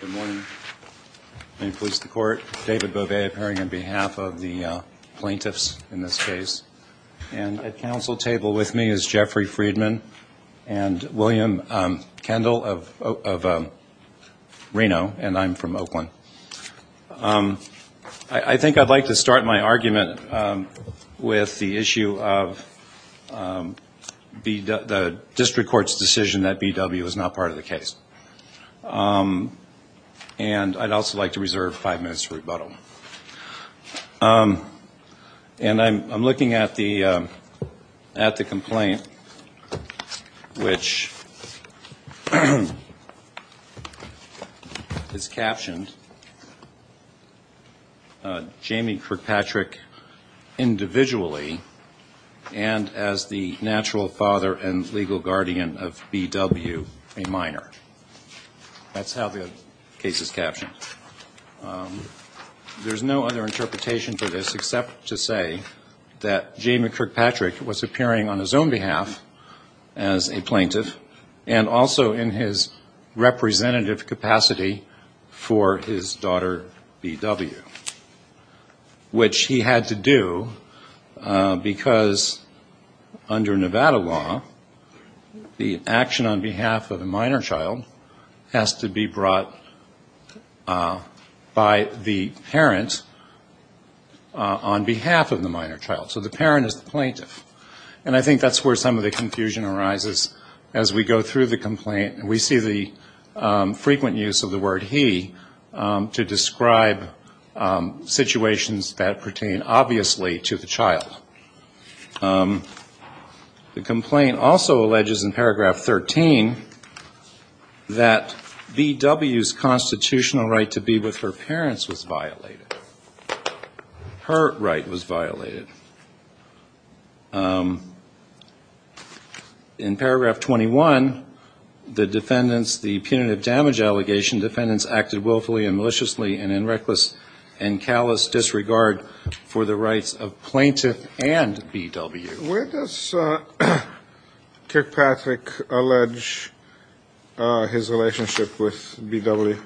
Good morning. May it please the court. David Bobet appearing on behalf of the plaintiffs in this case. And at council table with me is Jeffrey Friedman and William Kendall of Reno and I'm from Oakland. I think I'd like to start my argument with the issue of the and I'd also like to reserve five minutes for rebuttal. And I'm looking at the complaint which is captioned Jamie Kirkpatrick individually and as the natural father and legal guardian of B.W. a minor. That's how the case is captioned. There's no other interpretation for this except to say that Jamie Kirkpatrick was appearing on his own behalf as a plaintiff and also in his representative capacity for his daughter B.W. Which he had to do because under Nevada law the action on behalf of a minor child has to be brought by the parent on behalf of the minor child. So the parent is the plaintiff. And I think that's where some of the confusion arises as we go through the complaint. We see the frequent use of the word he to describe situations that pertain obviously to the child. The complaint also alleges in paragraph 13 that B.W.'s constitutional right to be with her parents was violated. Her right was violated. In paragraph 21, the defendants, the punitive damage allegation defendants acted willfully and maliciously and in reckless and callous disregard for the rights of plaintiff and B.W. Where does Kirkpatrick allege his relationship with B.W.?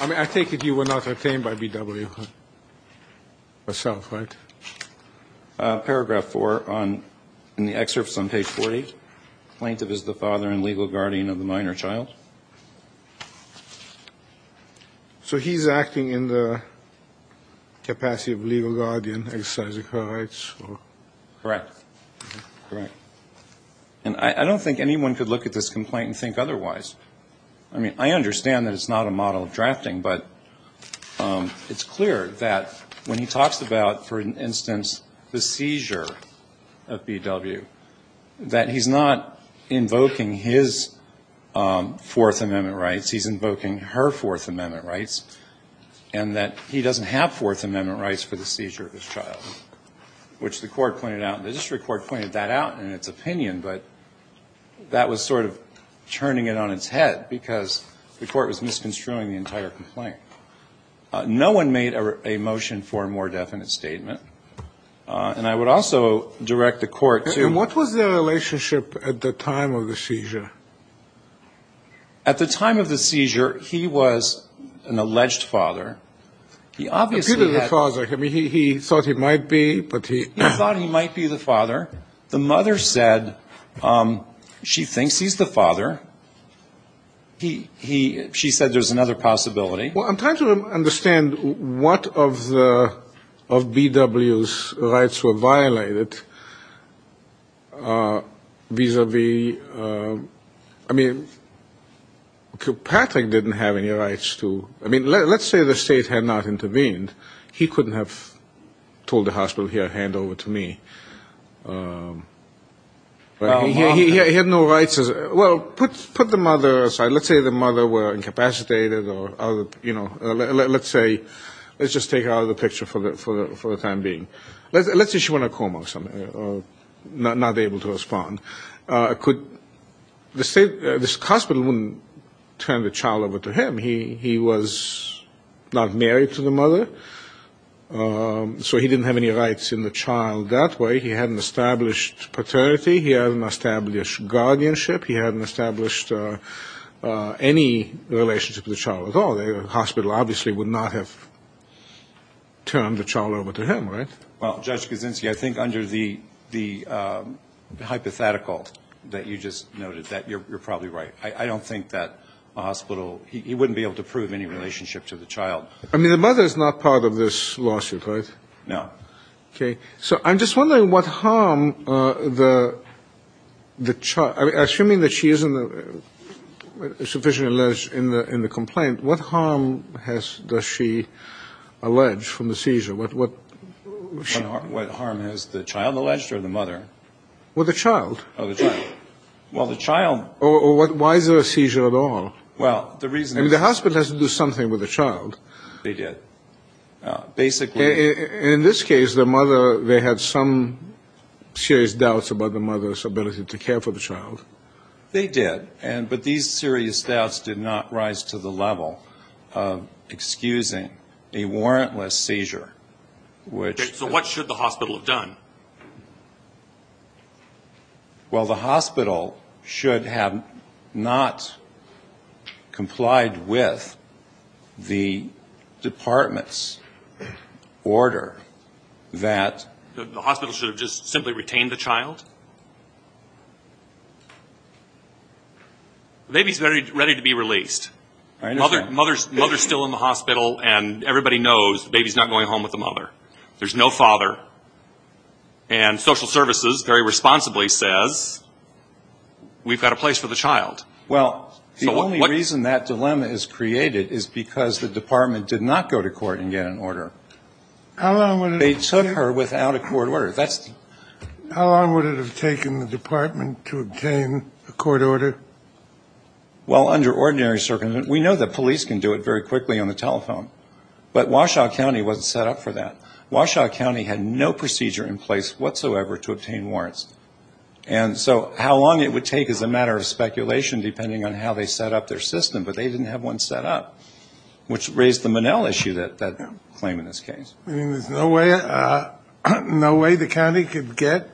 I mean, I take it you were not aware of that. Paragraph 4 in the excerpt is on page 40. Plaintiff is the father and legal guardian of the minor child. So he's acting in the capacity of legal guardian exercising her rights? Correct. Correct. And I don't think anyone could look at this complaint and think otherwise. I mean, I understand that it's not a model of drafting, but it's clear that when he talks about, for instance, the seizure of B.W., that he's not invoking his Fourth Amendment rights. He's invoking her Fourth Amendment rights and that he doesn't have Fourth Amendment rights for the seizure of his child, which the court pointed out. The district court pointed that out in its opinion, but that was sort of turning it on its head because the court was misconstruing the entire complaint. No one made a motion for a more definite statement. And I would also direct the court to And what was their relationship at the time of the seizure? At the time of the seizure, he was an alleged father. He obviously had Appeared to be the father. I mean, he thought he might be, but he He thought he might be the father. The mother said she thinks he's the father. She said there's another possibility. Well, I'm trying to understand what of B.W.'s rights were violated vis-à-vis I mean, Patrick didn't have any rights to I mean, let's say the state had not intervened. He couldn't have told the hospital, here, hand over to me. He had no rights. Well, put the mother aside. Let's say the mother were incapacitated or, you know, let's say, let's just take her out of the picture for the time being. Let's say she went into a coma or something or not able to respond. Could the state, this hospital wouldn't turn the child over to him. He was not married to the mother, so he didn't have any rights in the child that way. He had an established paternity. He had an established guardianship. He hadn't established any relationship with the child at all. The hospital obviously would not have turned the child over to him, right? Well, Judge Kaczynski, I think under the hypothetical that you just noted that you're probably right. I don't think that a hospital, he wouldn't be able to prove any relationship to the child. I mean, the mother is not part of this lawsuit, right? No. Okay. So I'm just wondering what harm the child, assuming that she isn't sufficiently alleged in the complaint, what harm does she allege from the seizure? What harm has the child alleged or the mother? Well, the child. Oh, the child. Well, the child. Or why is there a seizure at all? Well, the reason is. I mean, the hospital has to do something with the child. They did. Basically. In this case, the mother, they had some serious doubts about the mother's ability to care for the child. They did. But these serious doubts did not rise to the level of excusing a warrantless seizure, which. Okay. So what should the hospital have done? Well, the hospital should have not complied with the department's order that. The hospital should have just simply retained the child? The baby is ready to be released. I understand. Mother is still in the hospital, and everybody knows the baby is not going home with the mother. There's no father. And social services very responsibly says, we've got a place for the child. Well, the only reason that dilemma is created is because the department did not go to court and get an order. How long would it have taken? They took her without a court order. How long would it have taken the department to obtain a court order? Well, under ordinary circumstances. We know the police can do it very quickly on the telephone. But Washoe County wasn't set up for that. Washoe County had no procedure in place whatsoever to obtain warrants. And so how long it would take is a matter of speculation depending on how they set up their system. But they didn't have one set up, which raised the Manel issue, that claim in this case. Meaning there's no way the county could get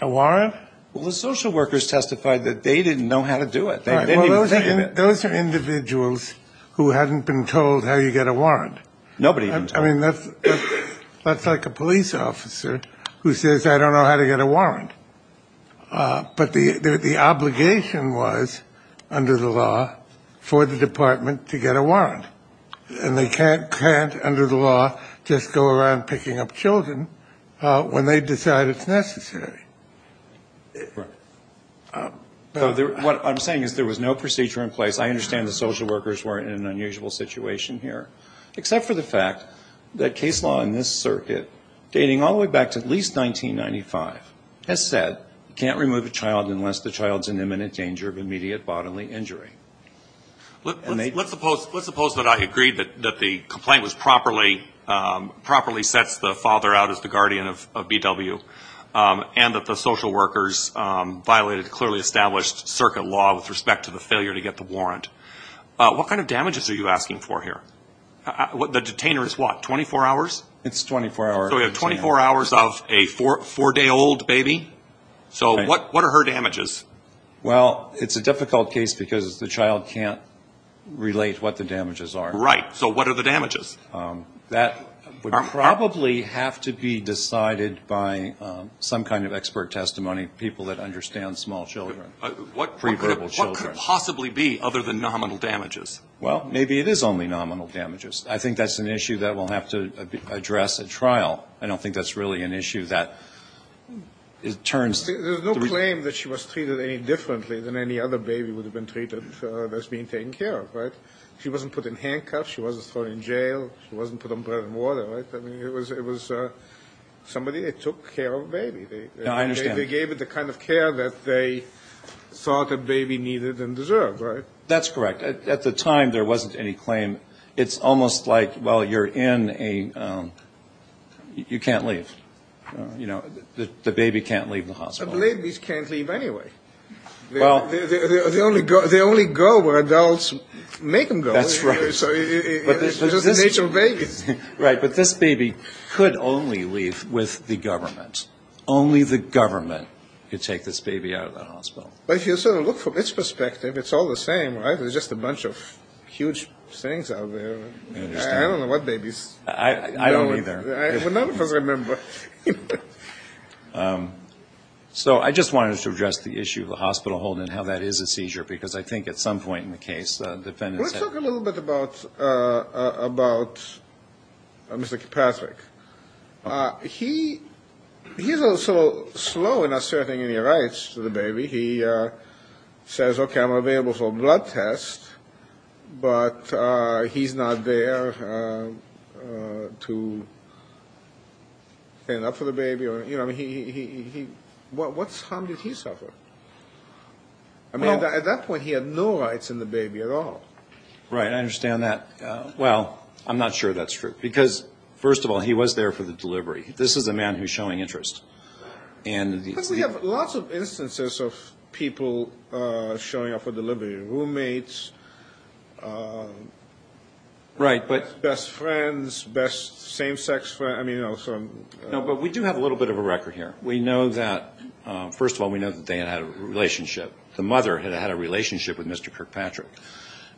a warrant? Well, the social workers testified that they didn't know how to do it. Those are individuals who hadn't been told how you get a warrant. Nobody. I mean, that's like a police officer who says, I don't know how to get a warrant. But the obligation was under the law for the department to get a warrant. And they can't under the law just go around picking up children when they decide it's necessary. Right. What I'm saying is there was no procedure in place. I understand the social workers were in an unusual situation here. Except for the fact that case law in this circuit, dating all the way back to at least 1995, has said you can't remove a child unless the child is in imminent danger of immediate bodily injury. Let's suppose that I agree that the complaint was properly sets the father out as the guardian of B.W. and that the social workers violated clearly established circuit law with respect to the failure to get the warrant. What kind of damages are you asking for here? The detainer is what, 24 hours? It's 24 hours. So we have 24 hours of a four-day-old baby. So what are her damages? Well, it's a difficult case because the child can't relate what the damages are. Right. So what are the damages? That would probably have to be decided by some kind of expert testimony, people that understand small children, pre-verbal children. What could possibly be other than nominal damages? Well, maybe it is only nominal damages. I think that's an issue that we'll have to address at trial. I don't think that's really an issue that it turns to. There's no claim that she was treated any differently than any other baby would have been treated as being taken care of, right? She wasn't put in handcuffs. She wasn't thrown in jail. She wasn't put on bread and water, right? I mean, it was somebody that took care of a baby. I understand. They gave it the kind of care that they thought a baby needed and deserved, right? That's correct. At the time, there wasn't any claim. It's almost like, well, you're in a – you can't leave. You know, the baby can't leave the hospital. But babies can't leave anyway. They only go where adults make them go. That's right. It's just the nature of babies. Right. But this baby could only leave with the government. Only the government could take this baby out of the hospital. But if you sort of look from its perspective, it's all the same, right? There's just a bunch of huge things out there. I don't know what babies – I don't either. None of us remember. So I just wanted to address the issue of the hospital holding and how that is a seizure because I think at some point in the case, defendants have – Let's talk a little bit about Mr. Kipatrick. He's also slow in asserting any rights to the baby. He says, okay, I'm available for a blood test, but he's not there to stand up for the baby. I mean, what harm did he suffer? I mean, at that point, he had no rights in the baby at all. Right. I understand that. Well, I'm not sure that's true because, first of all, he was there for the delivery. This is a man who's showing interest. Because we have lots of instances of people showing up for delivery, roommates, best friends, same-sex friends. No, but we do have a little bit of a record here. We know that – first of all, we know that they had had a relationship. The mother had had a relationship with Mr. Kirkpatrick.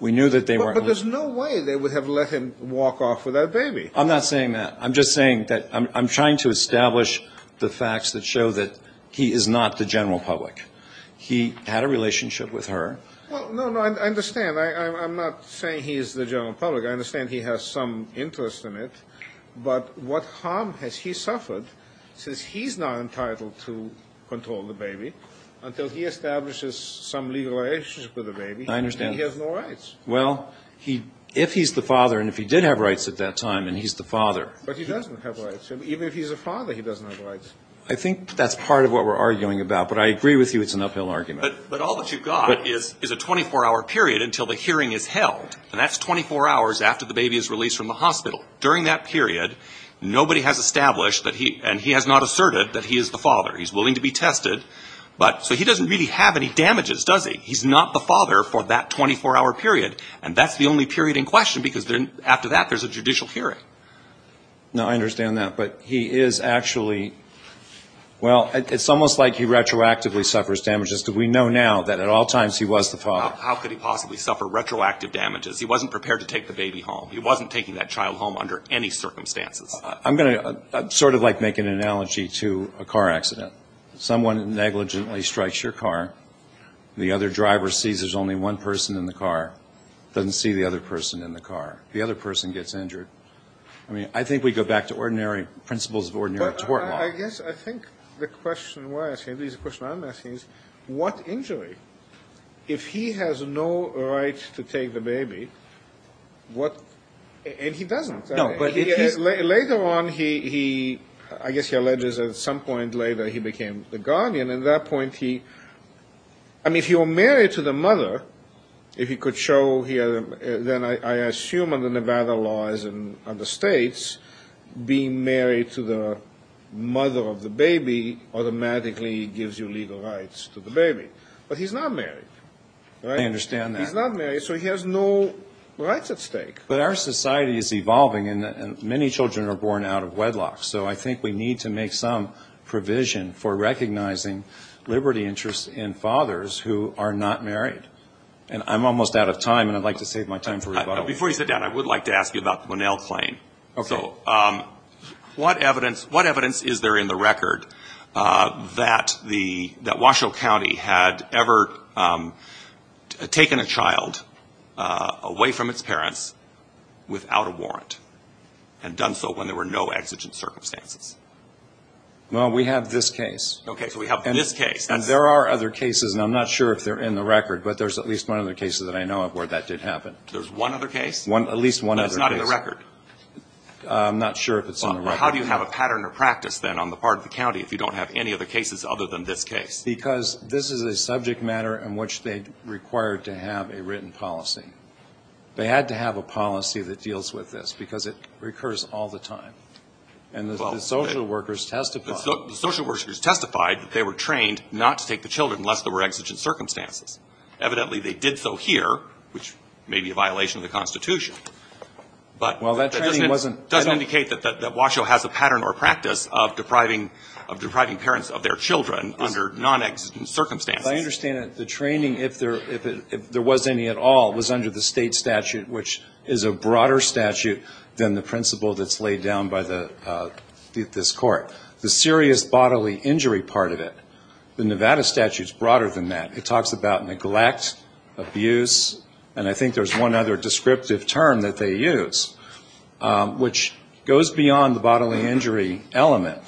We knew that they were – But there's no way they would have let him walk off with that baby. I'm not saying that. I'm just saying that I'm trying to establish the facts that show that he is not the general public. He had a relationship with her. Well, no, no, I understand. I'm not saying he is the general public. I understand he has some interest in it. But what harm has he suffered since he's not entitled to control the baby until he establishes some legal relationship with the baby? I understand. And he has no rights. Well, if he's the father and if he did have rights at that time and he's the father. But he doesn't have rights. Even if he's a father, he doesn't have rights. I think that's part of what we're arguing about. But I agree with you it's an uphill argument. But all that you've got is a 24-hour period until the hearing is held. And that's 24 hours after the baby is released from the hospital. During that period, nobody has established and he has not asserted that he is the father. He's willing to be tested. So he doesn't really have any damages, does he? He's not the father for that 24-hour period. And that's the only period in question because after that there's a judicial hearing. No, I understand that. But he is actually, well, it's almost like he retroactively suffers damages because we know now that at all times he was the father. How could he possibly suffer retroactive damages? He wasn't prepared to take the baby home. He wasn't taking that child home under any circumstances. I'm going to sort of like make an analogy to a car accident. Someone negligently strikes your car. The other driver sees there's only one person in the car, doesn't see the other person in the car. The other person gets injured. I mean, I think we go back to ordinary principles of ordinary tort law. I guess I think the question we're asking, at least the question I'm asking, is what injury? If he has no right to take the baby, what – and he doesn't. No, but if he's – Later on, he – I guess he alleges at some point later he became the guardian. At that point, he – I mean, if you were married to the mother, if he could show – then I assume under Nevada laws and other states, being married to the mother of the baby automatically gives you legal rights to the baby. But he's not married, right? I understand that. He's not married, so he has no rights at stake. But our society is evolving, and many children are born out of wedlock. So I think we need to make some provision for recognizing liberty interests in fathers who are not married. And I'm almost out of time, and I'd like to save my time for rebuttal. Before you sit down, I would like to ask you about the Winnell claim. Okay. What evidence is there in the record that Washoe County had ever taken a child away from its parents without a warrant and done so when there were no exigent circumstances? Well, we have this case. Okay, so we have this case. And there are other cases, and I'm not sure if they're in the record, but there's at least one other case that I know of where that did happen. There's one other case? At least one other case. It's not in the record. I'm not sure if it's in the record. Well, how do you have a pattern of practice, then, on the part of the county if you don't have any other cases other than this case? Because this is a subject matter in which they required to have a written policy. They had to have a policy that deals with this because it recurs all the time. And the social workers testified. The social workers testified that they were trained not to take the children unless there were exigent circumstances. Evidently, they did so here, which may be a violation of the Constitution. But that doesn't indicate that Washoe has a pattern or practice of depriving parents of their children under nonexigent circumstances. I understand that the training, if there was any at all, was under the State statute, which is a broader statute than the principle that's laid down by this Court. The serious bodily injury part of it, the Nevada statute is broader than that. It talks about neglect, abuse, and I think there's one other descriptive term that they use, which goes beyond the bodily injury element.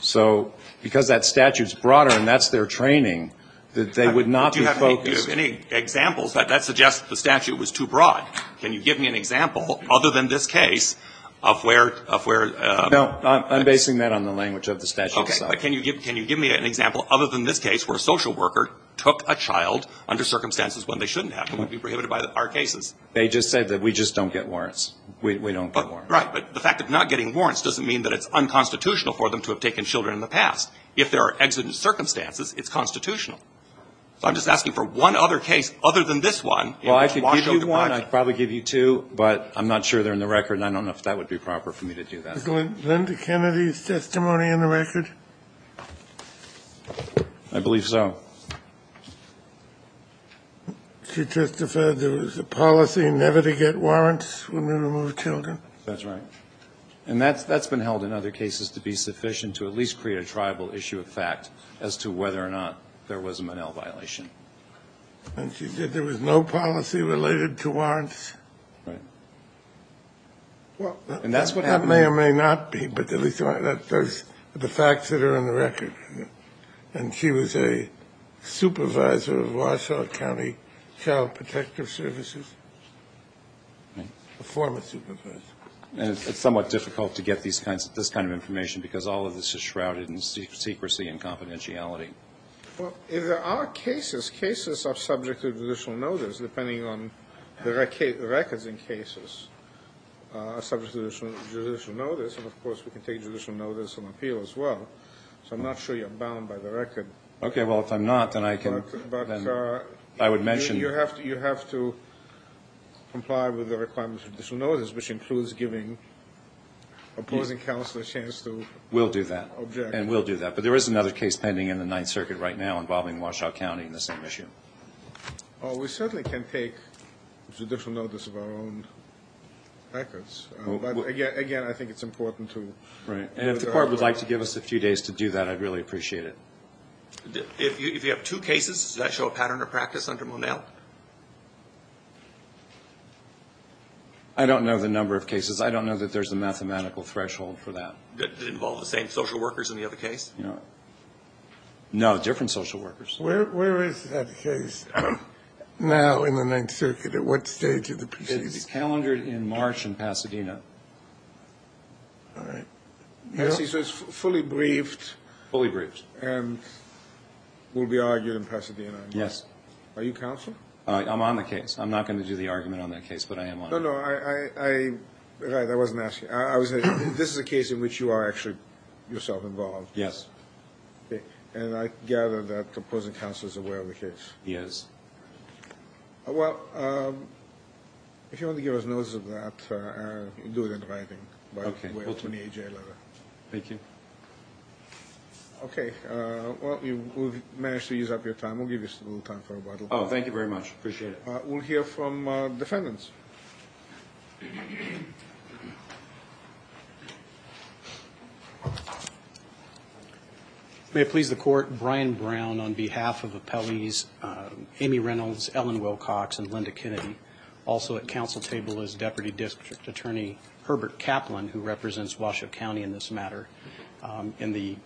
So because that statute's broader and that's their training, they would not be focused. Do you have any examples? That suggests the statute was too broad. Can you give me an example other than this case of where? No, I'm basing that on the language of the statute itself. Okay. But can you give me an example other than this case where a social worker took a child under circumstances when they shouldn't have and would be prohibited by our cases? They just said that we just don't get warrants. We don't get warrants. Right. But the fact of not getting warrants doesn't mean that it's unconstitutional for them to have taken children in the past. If there are exigent circumstances, it's constitutional. So I'm just asking for one other case other than this one. Well, I could give you one. I could probably give you two, but I'm not sure they're in the record and I don't know if that would be proper for me to do that. Was Linda Kennedy's testimony in the record? I believe so. She testified there was a policy never to get warrants when we remove children. That's right. And that's been held in other cases to be sufficient to at least create a tribal issue of fact as to whether or not there was a Monell violation. And she said there was no policy related to warrants. Right. And that's what happened. That may or may not be, but at least there's the facts that are in the record. And she was a supervisor of Wausau County Child Protective Services, a former supervisor. And it's somewhat difficult to get this kind of information because all of this is shrouded in secrecy and confidentiality. Well, if there are cases, cases are subject to judicial notice, depending on the records in cases, are subject to judicial notice. And, of course, we can take judicial notice and appeal as well. So I'm not sure you're bound by the record. Okay. Well, if I'm not, then I would mention. You have to comply with the requirements of judicial notice, which includes giving opposing counsel a chance to object. We'll do that. And we'll do that. But there is another case pending in the Ninth Circuit right now involving Wausau County in the same issue. We certainly can take judicial notice of our own records. But, again, I think it's important to. Right. And if the Court would like to give us a few days to do that, I'd really appreciate it. If you have two cases, does that show a pattern of practice under Monell? I don't know the number of cases. I don't know that there's a mathematical threshold for that. Did it involve the same social workers in the other case? No. No, different social workers. Where is that case now in the Ninth Circuit? At what stage of the proceedings? It's calendared in March in Pasadena. All right. So it's fully briefed. Fully briefed. And will be argued in Pasadena. Yes. Are you counsel? I'm on the case. I'm not going to do the argument on that case, but I am on it. No, no. I wasn't asking. This is a case in which you are actually yourself involved. Yes. And I gather that the opposing counsel is aware of the case. He is. Well, if you want to give us notice of that, do it in writing. Okay. Thank you. Okay. Well, you managed to use up your time. We'll give you a little time for rebuttal. Oh, thank you very much. Appreciate it. We'll hear from defendants. May it please the Court, Brian Brown on behalf of appellees Amy Reynolds, Ellen Wilcox, and Linda Kennedy. Also at counsel table is Deputy District Attorney Herbert Kaplan, who represents Washoe County in this matter. In the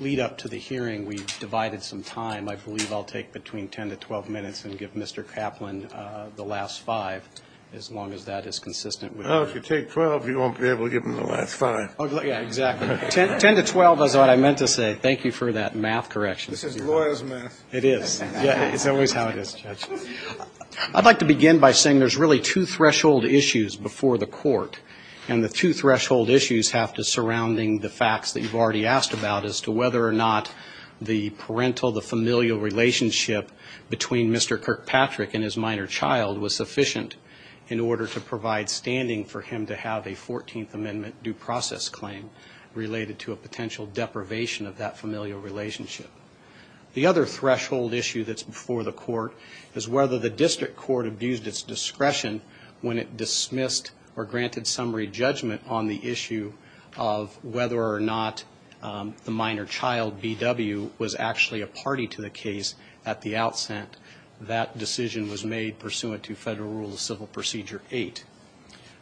lead-up to the hearing, we divided some time. I believe I'll take between 10 to 12 minutes and give Mr. Kaplan the last five. As long as that is consistent. Well, if you take 12, you won't be able to give him the last five. Yeah, exactly. 10 to 12 is what I meant to say. Thank you for that math correction. This is lawyer's math. It is. It's always how it is, Judge. I'd like to begin by saying there's really two threshold issues before the Court, and the two threshold issues have to surrounding the facts that you've already asked about as to whether or not the parental, the familial relationship between Mr. Kirkpatrick and his minor child was sufficient in order to provide standing for him to have a 14th Amendment due process claim related to a potential deprivation of that familial relationship. The other threshold issue that's before the Court is whether the district court abused its discretion when it dismissed or granted summary judgment on the issue of whether or not the minor child, B.W., was actually a party to the case at the outset. That decision was made pursuant to Federal Rule of Civil Procedure 8.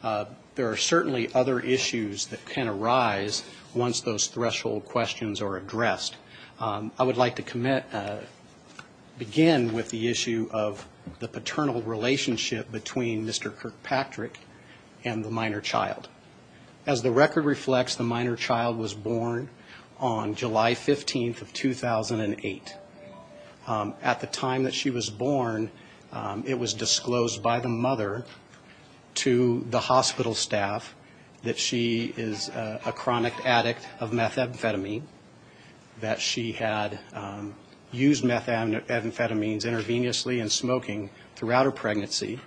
There are certainly other issues that can arise once those threshold questions are addressed. I would like to begin with the issue of the paternal relationship between Mr. Kirkpatrick and the minor child. As the record reflects, the minor child was born on July 15th of 2008. At the time that she was born, it was disclosed by the mother to the hospital staff that she is a chronic addict of methamphetamine, that she had used methamphetamines intravenously in smoking throughout her pregnancy,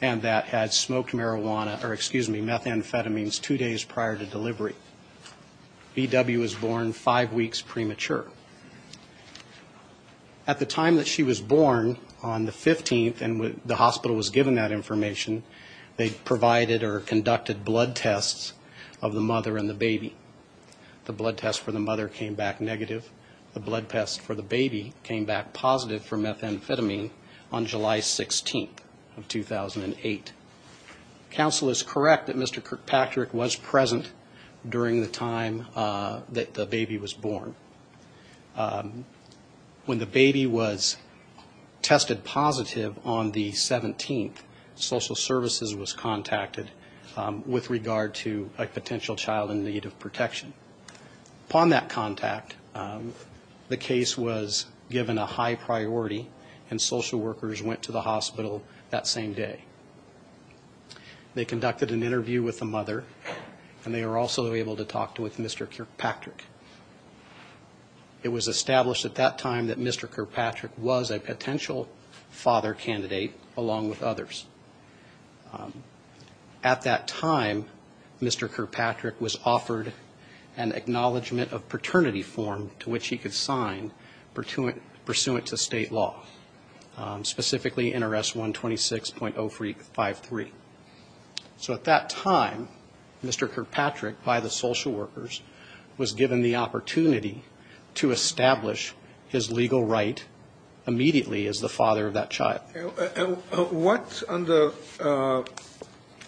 and that had smoked marijuana or, excuse me, methamphetamines two days prior to delivery. B.W. was born five weeks premature. At the time that she was born on the 15th and the hospital was given that information, they provided or conducted blood tests of the mother and the baby. The blood test for the mother came back negative. The blood test for the baby came back positive for methamphetamine on July 16th of 2008. Counsel is correct that Mr. Kirkpatrick was present during the time that the baby was born. When the baby was tested positive on the 17th, social services was contacted with regard to a potential child in need of protection. Upon that contact, the case was given a high priority, and social workers went to the hospital that same day. They conducted an interview with the mother, and they were also able to talk with Mr. Kirkpatrick. It was established at that time that Mr. Kirkpatrick was a potential father candidate along with others. At that time, Mr. Kirkpatrick was offered an acknowledgment of paternity form to which he could sign pursuant to state law, specifically NRS 126.053. So at that time, Mr. Kirkpatrick, by the social workers, was given the opportunity to establish his legal right immediately as the father of that child. What, under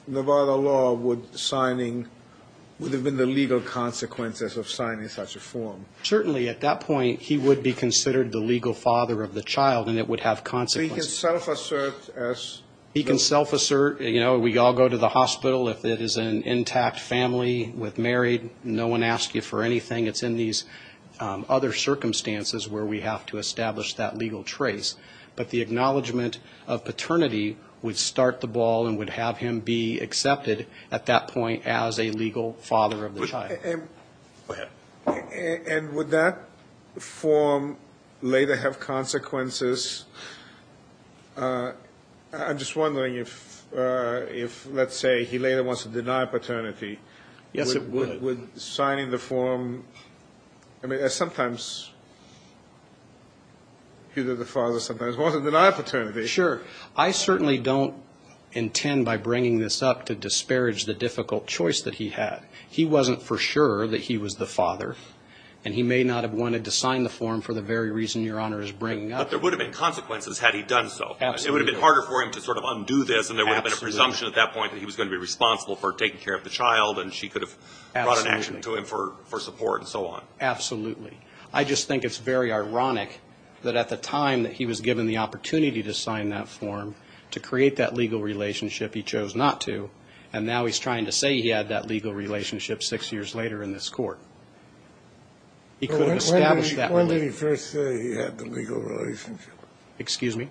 Nevada law, would have been the legal consequences of signing such a form? Certainly, at that point, he would be considered the legal father of the child, and it would have consequences. So he can self-assert as? He can self-assert. You know, we all go to the hospital. If it is an intact family with married, no one asks you for anything. It's in these other circumstances where we have to establish that legal trace. But the acknowledgment of paternity would start the ball and would have him be accepted at that point as a legal father of the child. Go ahead. And would that form later have consequences? I'm just wondering if, let's say, he later wants to deny paternity. Yes, it would. Would signing the form, I mean, sometimes he was the father, sometimes he wasn't, deny paternity. Sure. I certainly don't intend by bringing this up to disparage the difficult choice that he had. He wasn't for sure that he was the father, and he may not have wanted to sign the form for the very reason Your Honor is bringing up. But there would have been consequences had he done so. Absolutely. It would have been harder for him to sort of undo this, and there would have been a presumption at that point that he was going to be responsible for taking care of the child, and she could have brought an action to him for support and so on. Absolutely. I just think it's very ironic that at the time that he was given the opportunity to sign that form to create that legal relationship he chose not to, and now he's trying to say he had that legal relationship six years later in this court. He could have established that relationship. When did he first say he had the legal relationship? Excuse me?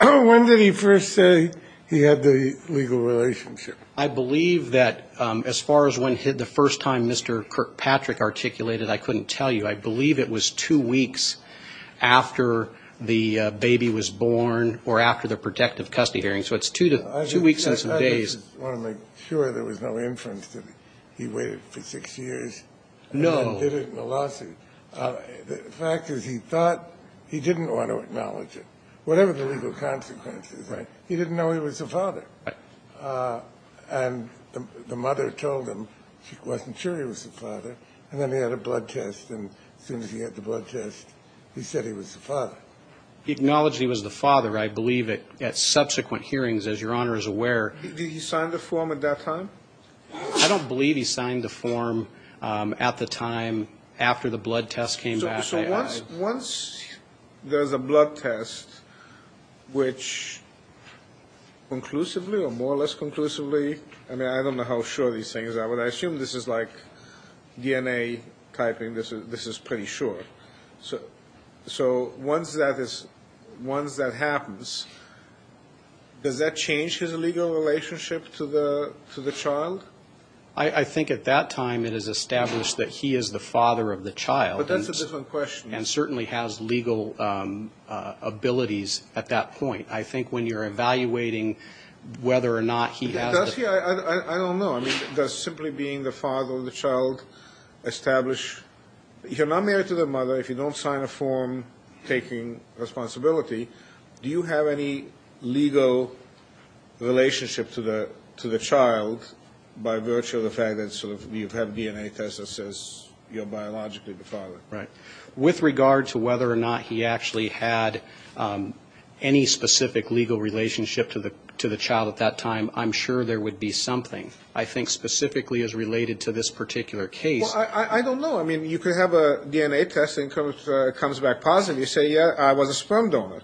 When did he first say he had the legal relationship? I believe that as far as when the first time Mr. Kirkpatrick articulated, I couldn't tell you. I believe it was two weeks after the baby was born or after the protective custody hearing. So it's two weeks and some days. I just want to make sure there was no inference that he waited for six years and then did it in a lawsuit. No. The fact is he thought he didn't want to acknowledge it, whatever the legal consequences. Right. He didn't know he was the father. And the mother told him she wasn't sure he was the father. And then he had a blood test, and as soon as he had the blood test, he said he was the father. He acknowledged he was the father, I believe, at subsequent hearings, as Your Honor is aware. Did he sign the form at that time? I don't believe he signed the form at the time after the blood test came back. So once there's a blood test, which conclusively or more or less conclusively, I mean I don't know how sure these things are, but I assume this is like DNA typing, this is pretty sure. So once that happens, does that change his legal relationship to the child? I think at that time it is established that he is the father of the child. But that's a different question. And certainly has legal abilities at that point. I think when you're evaluating whether or not he has the ---- Does he? I don't know. I mean, does simply being the father of the child establish? You're not married to the mother. If you don't sign a form taking responsibility, do you have any legal relationship to the child by virtue of the fact that sort of you have DNA tests that says you're biologically the father? Right. With regard to whether or not he actually had any specific legal relationship to the child at that time, I'm sure there would be something. I think specifically as related to this particular case. Well, I don't know. I mean, you could have a DNA test and it comes back positive. You say, yeah, I was a sperm donor.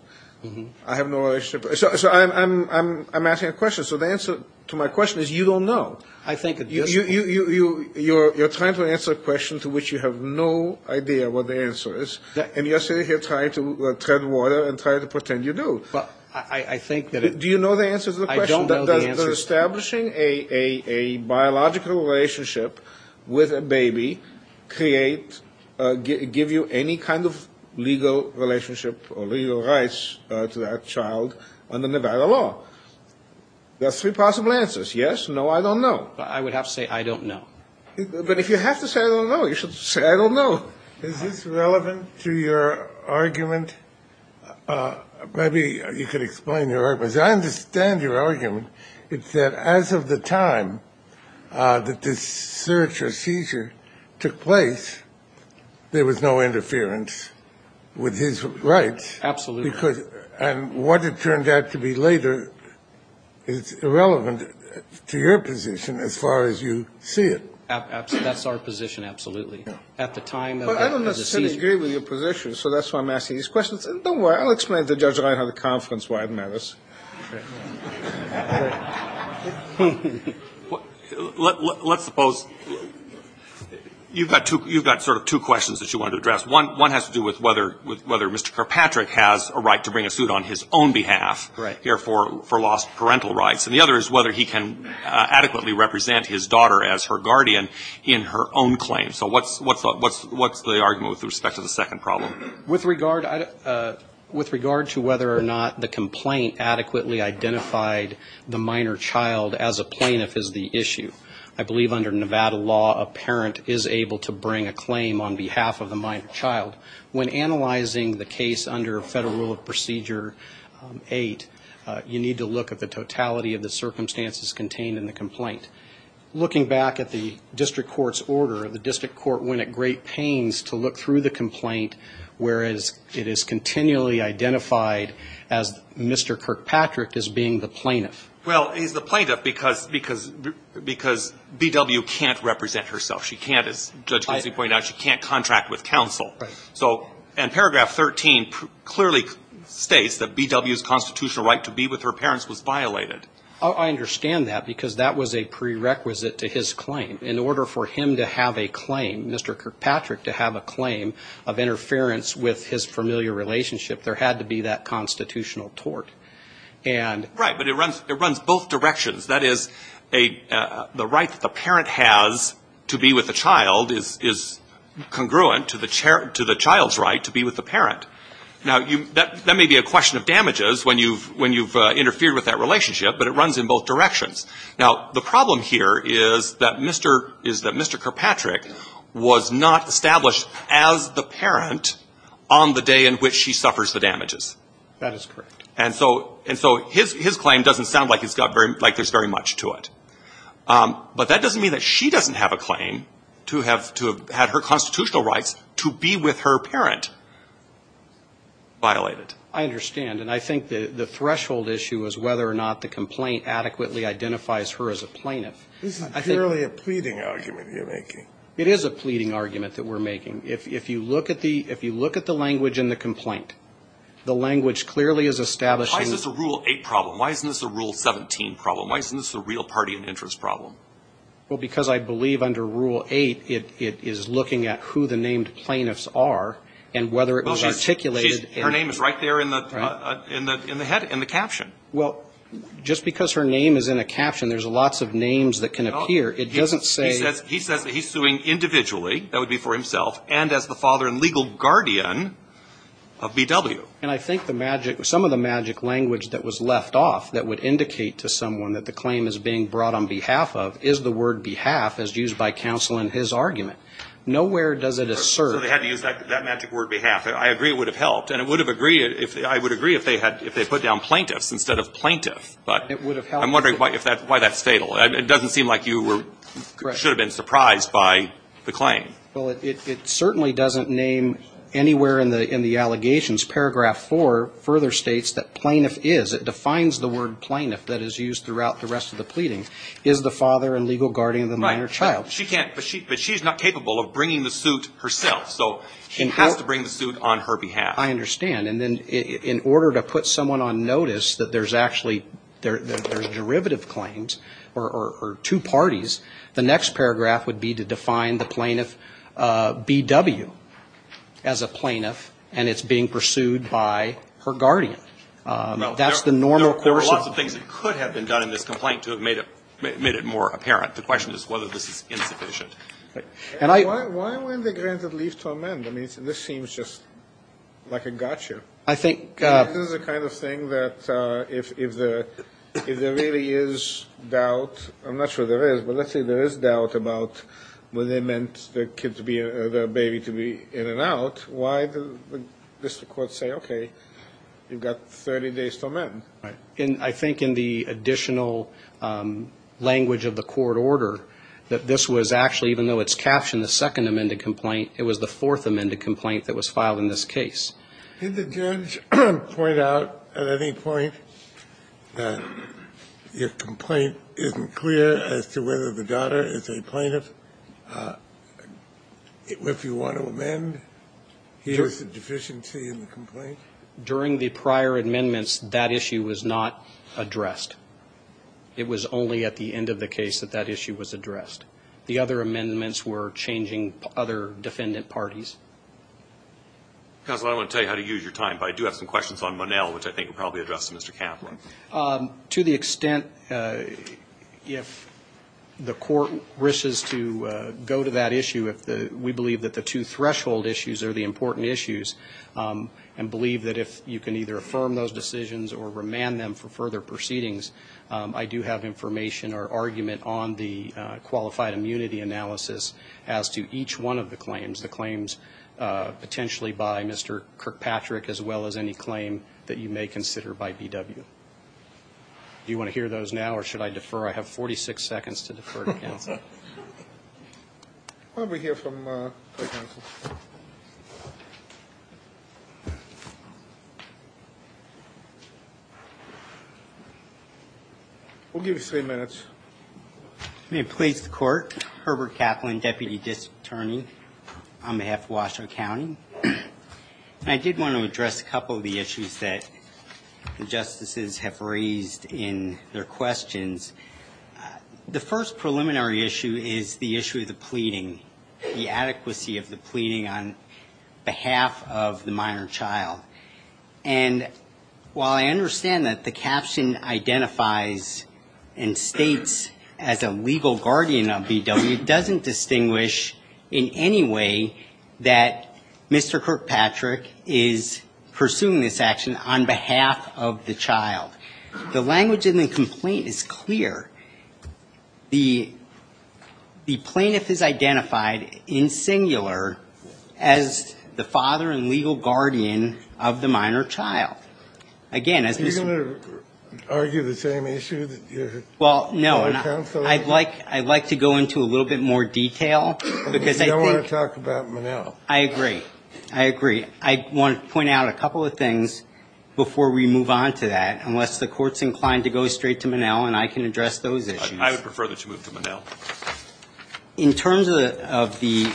I have no relationship. So I'm asking a question. So the answer to my question is you don't know. You're trying to answer a question to which you have no idea what the answer is, and you're sitting here trying to tread water and trying to pretend you do. I think that it ---- Do you know the answer to the question? I don't know the answer. Does establishing a biological relationship with a baby create, give you any kind of legal relationship or legal rights to that child under Nevada law? There are three possible answers. Yes, no, I don't know. I would have to say I don't know. But if you have to say I don't know, you should say I don't know. Is this relevant to your argument? Maybe you could explain your argument. I understand your argument. It's that as of the time that this search or seizure took place, there was no interference with his rights. Absolutely. And what it turned out to be later is irrelevant to your position as far as you see it. That's our position, absolutely. At the time of the seizure ---- Well, I don't necessarily agree with your position, so that's why I'm asking these questions. Don't worry. I'll explain it to Judge Reinhardt at the conference why it matters. Let's suppose you've got sort of two questions that you want to address. One has to do with whether Mr. Kirkpatrick has a right to bring a suit on his own behalf here for lost parental rights. And the other is whether he can adequately represent his daughter as her guardian in her own claim. So what's the argument with respect to the second problem? With regard to whether or not the complaint adequately identified the minor child as a plaintiff is the issue. I believe under Nevada law, a parent is able to bring a claim on behalf of the minor child. When analyzing the case under Federal Rule of Procedure 8, you need to look at the totality of the circumstances contained in the complaint. Looking back at the district court's order, the district court went at great pains to look through the complaint, whereas it is continually identified as Mr. Kirkpatrick as being the plaintiff. Well, he's the plaintiff because B.W. can't represent herself. She can't, as Judge Kinsey pointed out, she can't contract with counsel. And paragraph 13 clearly states that B.W.'s constitutional right to be with her parents was violated. I understand that because that was a prerequisite to his claim. In order for him to have a claim, Mr. Kirkpatrick to have a claim of interference with his familiar relationship, there had to be that constitutional tort. Right, but it runs both directions. That is, the right that the parent has to be with the child is congruent to the child's right to be with the parent. Now, that may be a question of damages when you've interfered with that relationship, but it runs in both directions. Now, the problem here is that Mr. Kirkpatrick was not established as the parent on the day in which she suffers the damages. That is correct. And so his claim doesn't sound like there's very much to it. But that doesn't mean that she doesn't have a claim to have had her constitutional rights to be with her parent violated. I understand. And I think the threshold issue is whether or not the complaint adequately identifies her as a plaintiff. This is clearly a pleading argument you're making. It is a pleading argument that we're making. If you look at the language in the complaint, the language clearly is establishing Why is this a Rule 8 problem? Why isn't this a Rule 17 problem? Why isn't this a real party and interest problem? Well, because I believe under Rule 8, it is looking at who the named plaintiffs are and whether it was articulated Her name is right there in the caption. Well, just because her name is in a caption, there's lots of names that can appear. It doesn't say He says he's suing individually. That would be for himself and as the father and legal guardian of B.W. And I think the magic, some of the magic language that was left off that would indicate to someone that the claim is being brought on behalf of is the word behalf as used by counsel in his argument. Nowhere does it assert So they had to use that magic word behalf. I agree it would have helped. And I would agree if they put down plaintiffs instead of plaintiff. But I'm wondering why that's fatal. It doesn't seem like you should have been surprised by the claim. Well, it certainly doesn't name anywhere in the allegations. Paragraph 4 further states that plaintiff is. It defines the word plaintiff that is used throughout the rest of the pleading. Is the father and legal guardian of the minor child. She can't. But she's not capable of bringing the suit herself. So she has to bring the suit on her behalf. I understand. And then in order to put someone on notice that there's actually there's derivative claims or two parties. The next paragraph would be to define the plaintiff B.W. as a plaintiff. And it's being pursued by her guardian. That's the normal course. There were lots of things that could have been done in this complaint to have made it made it more apparent. The question is whether this is insufficient. And I. Why when they granted leave to amend. I mean, this seems just like a gotcha. I think this is the kind of thing that if if the if there really is doubt. I'm not sure there is. But let's say there is doubt about what they meant. The kids be the baby to be in and out. Why does this court say, OK, you've got 30 days to amend. And I think in the additional language of the court order that this was actually, even though it's captioned the second amended complaint, it was the fourth amended complaint that was filed in this case. Did the judge point out at any point that your complaint isn't clear as to whether the daughter is a plaintiff. If you want to amend. Here's the deficiency in the complaint. During the prior amendments, that issue was not addressed. It was only at the end of the case that that issue was addressed. The other amendments were changing other defendant parties. Because I want to tell you how to use your time. But I do have some questions on Monell, which I think probably address Mr. Kaplan to the extent if the court wishes to go to that issue, if we believe that the two threshold issues are the important issues and believe that if you can either affirm those decisions or remand them for further proceedings, I do have information or argument on the qualified immunity analysis as to each one of the claims, the claims potentially by Mr. Kirkpatrick as well as any claim that you may consider by BW. Do you want to hear those now or should I defer? I have 46 seconds to defer to counsel. We'll give you three minutes. May it please the court. Herbert Kaplan, Deputy District Attorney on behalf of Washoe County. I did want to address a couple of the issues that the justices have raised in their questions. The first preliminary issue is the issue of the pleading, the adequacy of the pleading on behalf of the minor child. And while I understand that the caption identifies and states as a legal guardian of BW, it doesn't distinguish in any way that Mr. Kirkpatrick is pursuing this action on behalf of the child. The language in the complaint is clear. The plaintiff is identified in singular as the father and legal guardian of the minor child. Again, as Mr. Are you going to argue the same issue? Well, no. I'd like to go into a little bit more detail because I think You don't want to talk about Monell. I agree. I agree. I want to point out a couple of things before we move on to that. Unless the court's inclined to go straight to Monell and I can address those issues. I would prefer that you move to Monell. In terms of the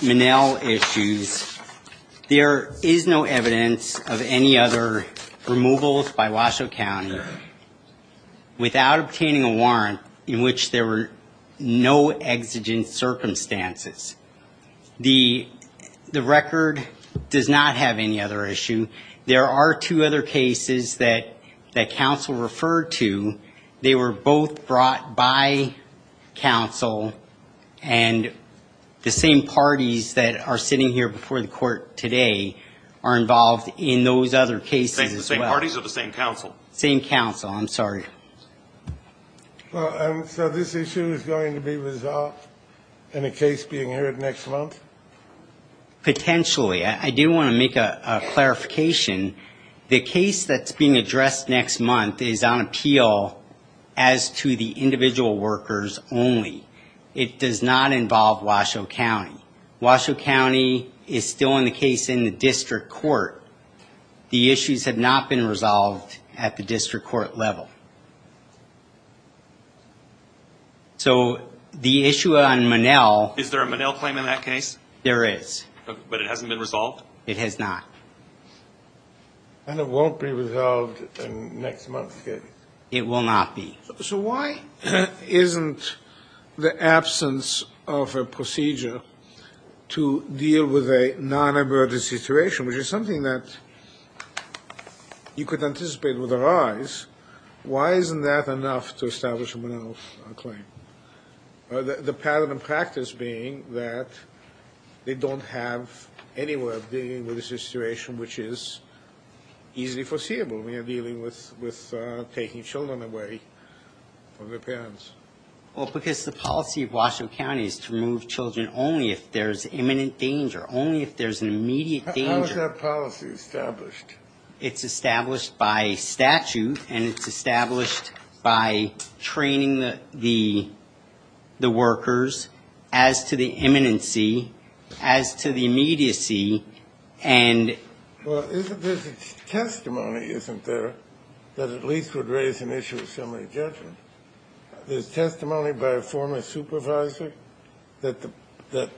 Monell issues, there is no evidence of any other removals by Washoe County without obtaining a warrant in which there were no exigent circumstances. The record does not have any other issue. There are two other cases that counsel referred to. They were both brought by counsel, and the same parties that are sitting here before the court today are involved in those other cases as well. The same parties or the same counsel? Same counsel. I'm sorry. So this issue is going to be resolved in a case being heard next month? Potentially. I do want to make a clarification. The case that's being addressed next month is on appeal as to the individual workers only. It does not involve Washoe County. Washoe County is still in the case in the district court. The issues have not been resolved at the district court level. So the issue on Monell. Is there a Monell claim in that case? There is. But it hasn't been resolved? It has not. And it won't be resolved next month? It will not be. So why isn't the absence of a procedure to deal with a nonemergency situation, which is something that you could anticipate would arise, why isn't that enough to establish a Monell claim? The pattern of practice being that they don't have any way of dealing with this situation, which is easily foreseeable. We are dealing with taking children away from their parents. Well, because the policy of Washoe County is to remove children only if there's imminent danger, only if there's an immediate danger. How is that policy established? It's established by statute, and it's established by training the workers as to the imminency, as to the immediacy. Well, there's a testimony, isn't there, that at least would raise an issue of similar judgment? There's testimony by a former supervisor that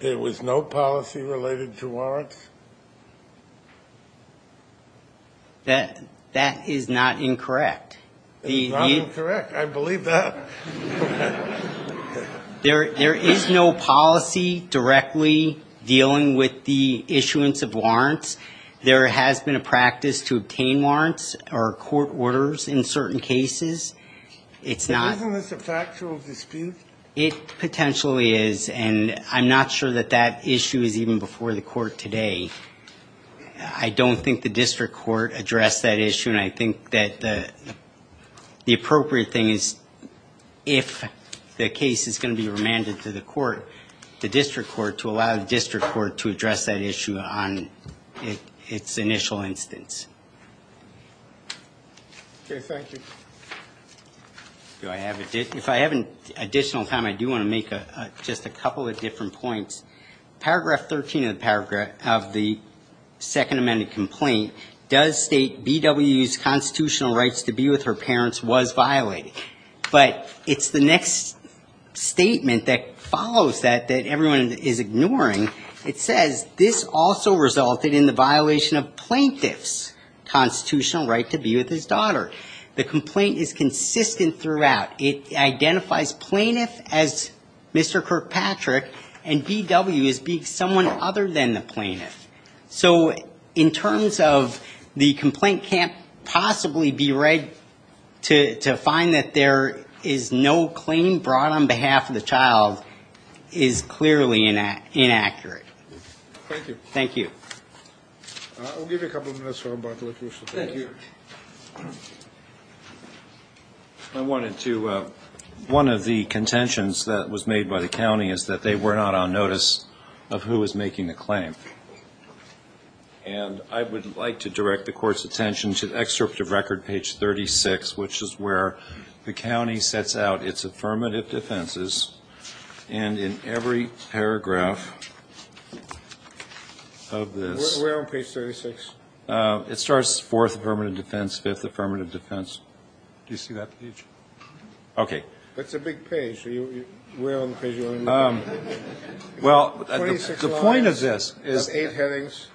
there was no policy related to warrants? That is not incorrect. It's not incorrect. I believe that. There is no policy directly dealing with the issuance of warrants. There has been a practice to obtain warrants or court orders in certain cases. Isn't this a factual dispute? It potentially is, and I'm not sure that that issue is even before the court today. I don't think the district court addressed that issue, and I think that the appropriate thing is if the case is going to be remanded to the court, the district court to allow the district court to address that issue on its initial instance. Okay, thank you. If I have additional time, I do want to make just a couple of different points. Paragraph 13 of the second amended complaint does state B.W.'s constitutional rights to be with her parents was violated. But it's the next statement that follows that that everyone is ignoring. It says, this also resulted in the violation of plaintiff's constitutional right to be with his daughter. The complaint is consistent throughout. It identifies plaintiff as Mr. Kirkpatrick, and B.W. as being someone other than the plaintiff. So in terms of the complaint can't possibly be read to find that there is no claim brought on behalf of the child is clearly inaccurate. Thank you. Thank you. I'll give you a couple minutes for rebuttal if you wish to take it. I wanted to, one of the contentions that was made by the county is that they were not on notice of who was making the claim. And I would like to direct the court's attention to the excerpt of record page 36, which is where the county sets out its affirmative defenses. And in every paragraph of this. Where on page 36? It starts fourth affirmative defense, fifth affirmative defense. Do you see that page? Okay. That's a big page. Where on page 36? Well, the point of this is. That's eight headings.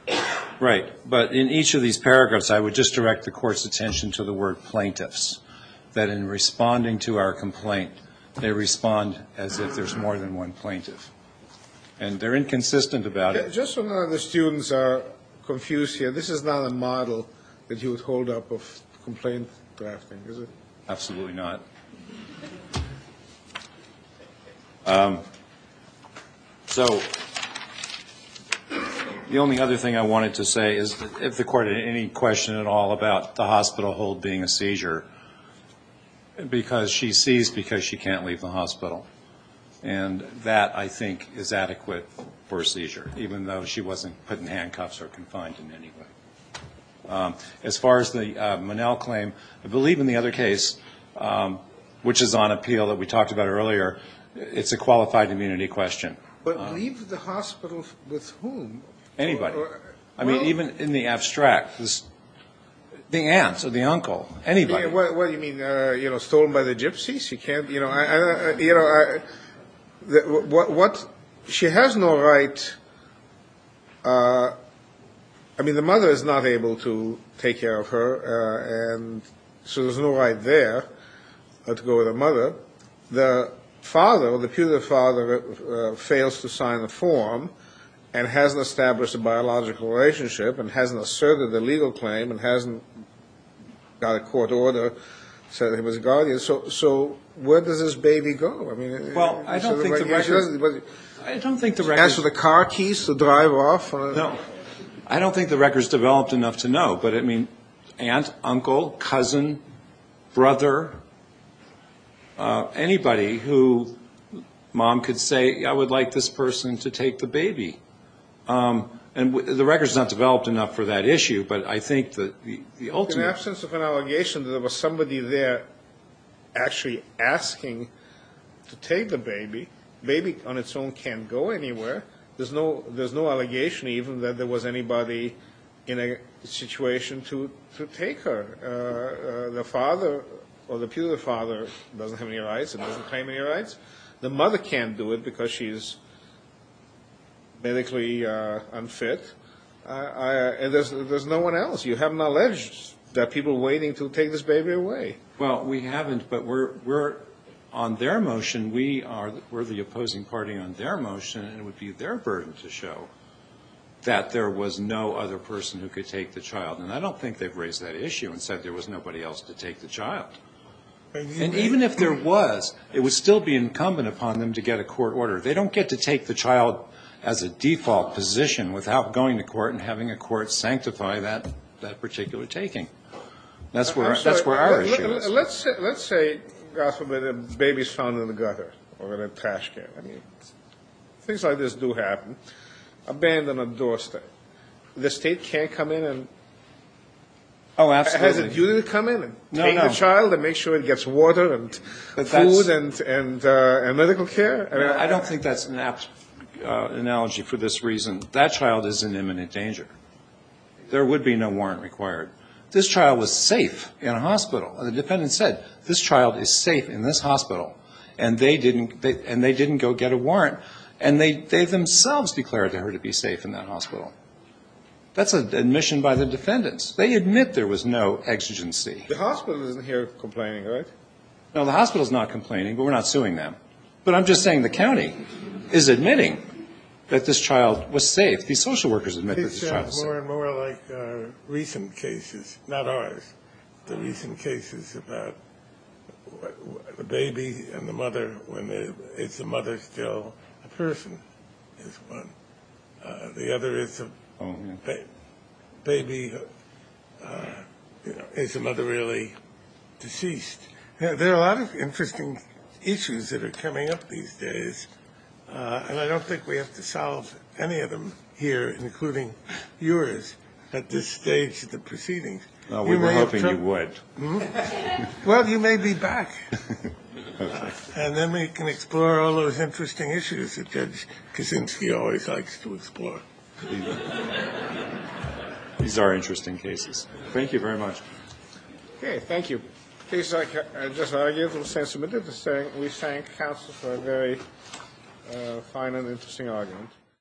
Right. But in each of these paragraphs, I would just direct the court's attention to the word plaintiffs, that in responding to our complaint, they respond as if there's more than one plaintiff. And they're inconsistent about it. Just so none of the students are confused here, this is not a model that you would hold up of complaint drafting, is it? Absolutely not. So the only other thing I wanted to say is if the court had any question at all about the hospital hold being a seizure, because she's seized because she can't leave the hospital. And that, I think, is adequate for a seizure, even though she wasn't put in handcuffs or confined in any way. As far as the Monell claim, I believe in the other case, which is on appeal that we talked about earlier, it's a qualified immunity question. But leave the hospital with whom? Anybody. I mean, even in the abstract. The aunts or the uncle. Anybody. What do you mean? Stolen by the gypsies? You know, she has no right. I mean, the mother is not able to take care of her, and so there's no right there to go with her mother. The father, the putative father, fails to sign the form and hasn't established a biological relationship and hasn't asserted a legal claim and hasn't got a court order, said he was a guardian. Okay. So where does this baby go? Well, I don't think the record. Ask for the car keys to drive off? No. I don't think the record is developed enough to know. But, I mean, aunt, uncle, cousin, brother, anybody who mom could say, I would like this person to take the baby. And the record is not developed enough for that issue, but I think the ultimate. In the absence of an allegation that there was somebody there actually asking to take the baby, the baby on its own can't go anywhere. There's no allegation even that there was anybody in a situation to take her. The father or the putative father doesn't have any rights and doesn't claim any rights. The mother can't do it because she's medically unfit, and there's no one else. You haven't alleged that people are waiting to take this baby away. Well, we haven't, but we're on their motion. We are the opposing party on their motion, and it would be their burden to show that there was no other person who could take the child. And I don't think they've raised that issue and said there was nobody else to take the child. And even if there was, it would still be incumbent upon them to get a court order. They don't get to take the child as a default position without going to court and having a court sanctify that particular taking. That's where our issue is. Let's say, God forbid, a baby is found in the gutter or in a trash can. I mean, things like this do happen. Abandon a doorstep. The state can't come in and as a duty come in and take the child and make sure it gets water and food and medical care? I don't think that's an apt analogy for this reason. That child is in imminent danger. There would be no warrant required. This child was safe in a hospital. The defendant said, this child is safe in this hospital, and they didn't go get a warrant. And they themselves declared to her to be safe in that hospital. That's an admission by the defendants. They admit there was no exigency. The hospital isn't here complaining, right? No, the hospital's not complaining, but we're not suing them. But I'm just saying the county is admitting that this child was safe. These social workers admit that the child was safe. It's more and more like recent cases, not ours, the recent cases about the baby and the mother. Is the mother still a person is one. The other is a baby. Is the mother really deceased? There are a lot of interesting issues that are coming up these days, and I don't think we have to solve any of them here, including yours, at this stage of the proceedings. We were hoping you would. Well, you may be back. And then we can explore all those interesting issues that Judge Kaczynski always likes to explore. These are interesting cases. Thank you very much. Okay, thank you. The cases I just argued were sensitive. We thank counsel for a very fine and interesting argument.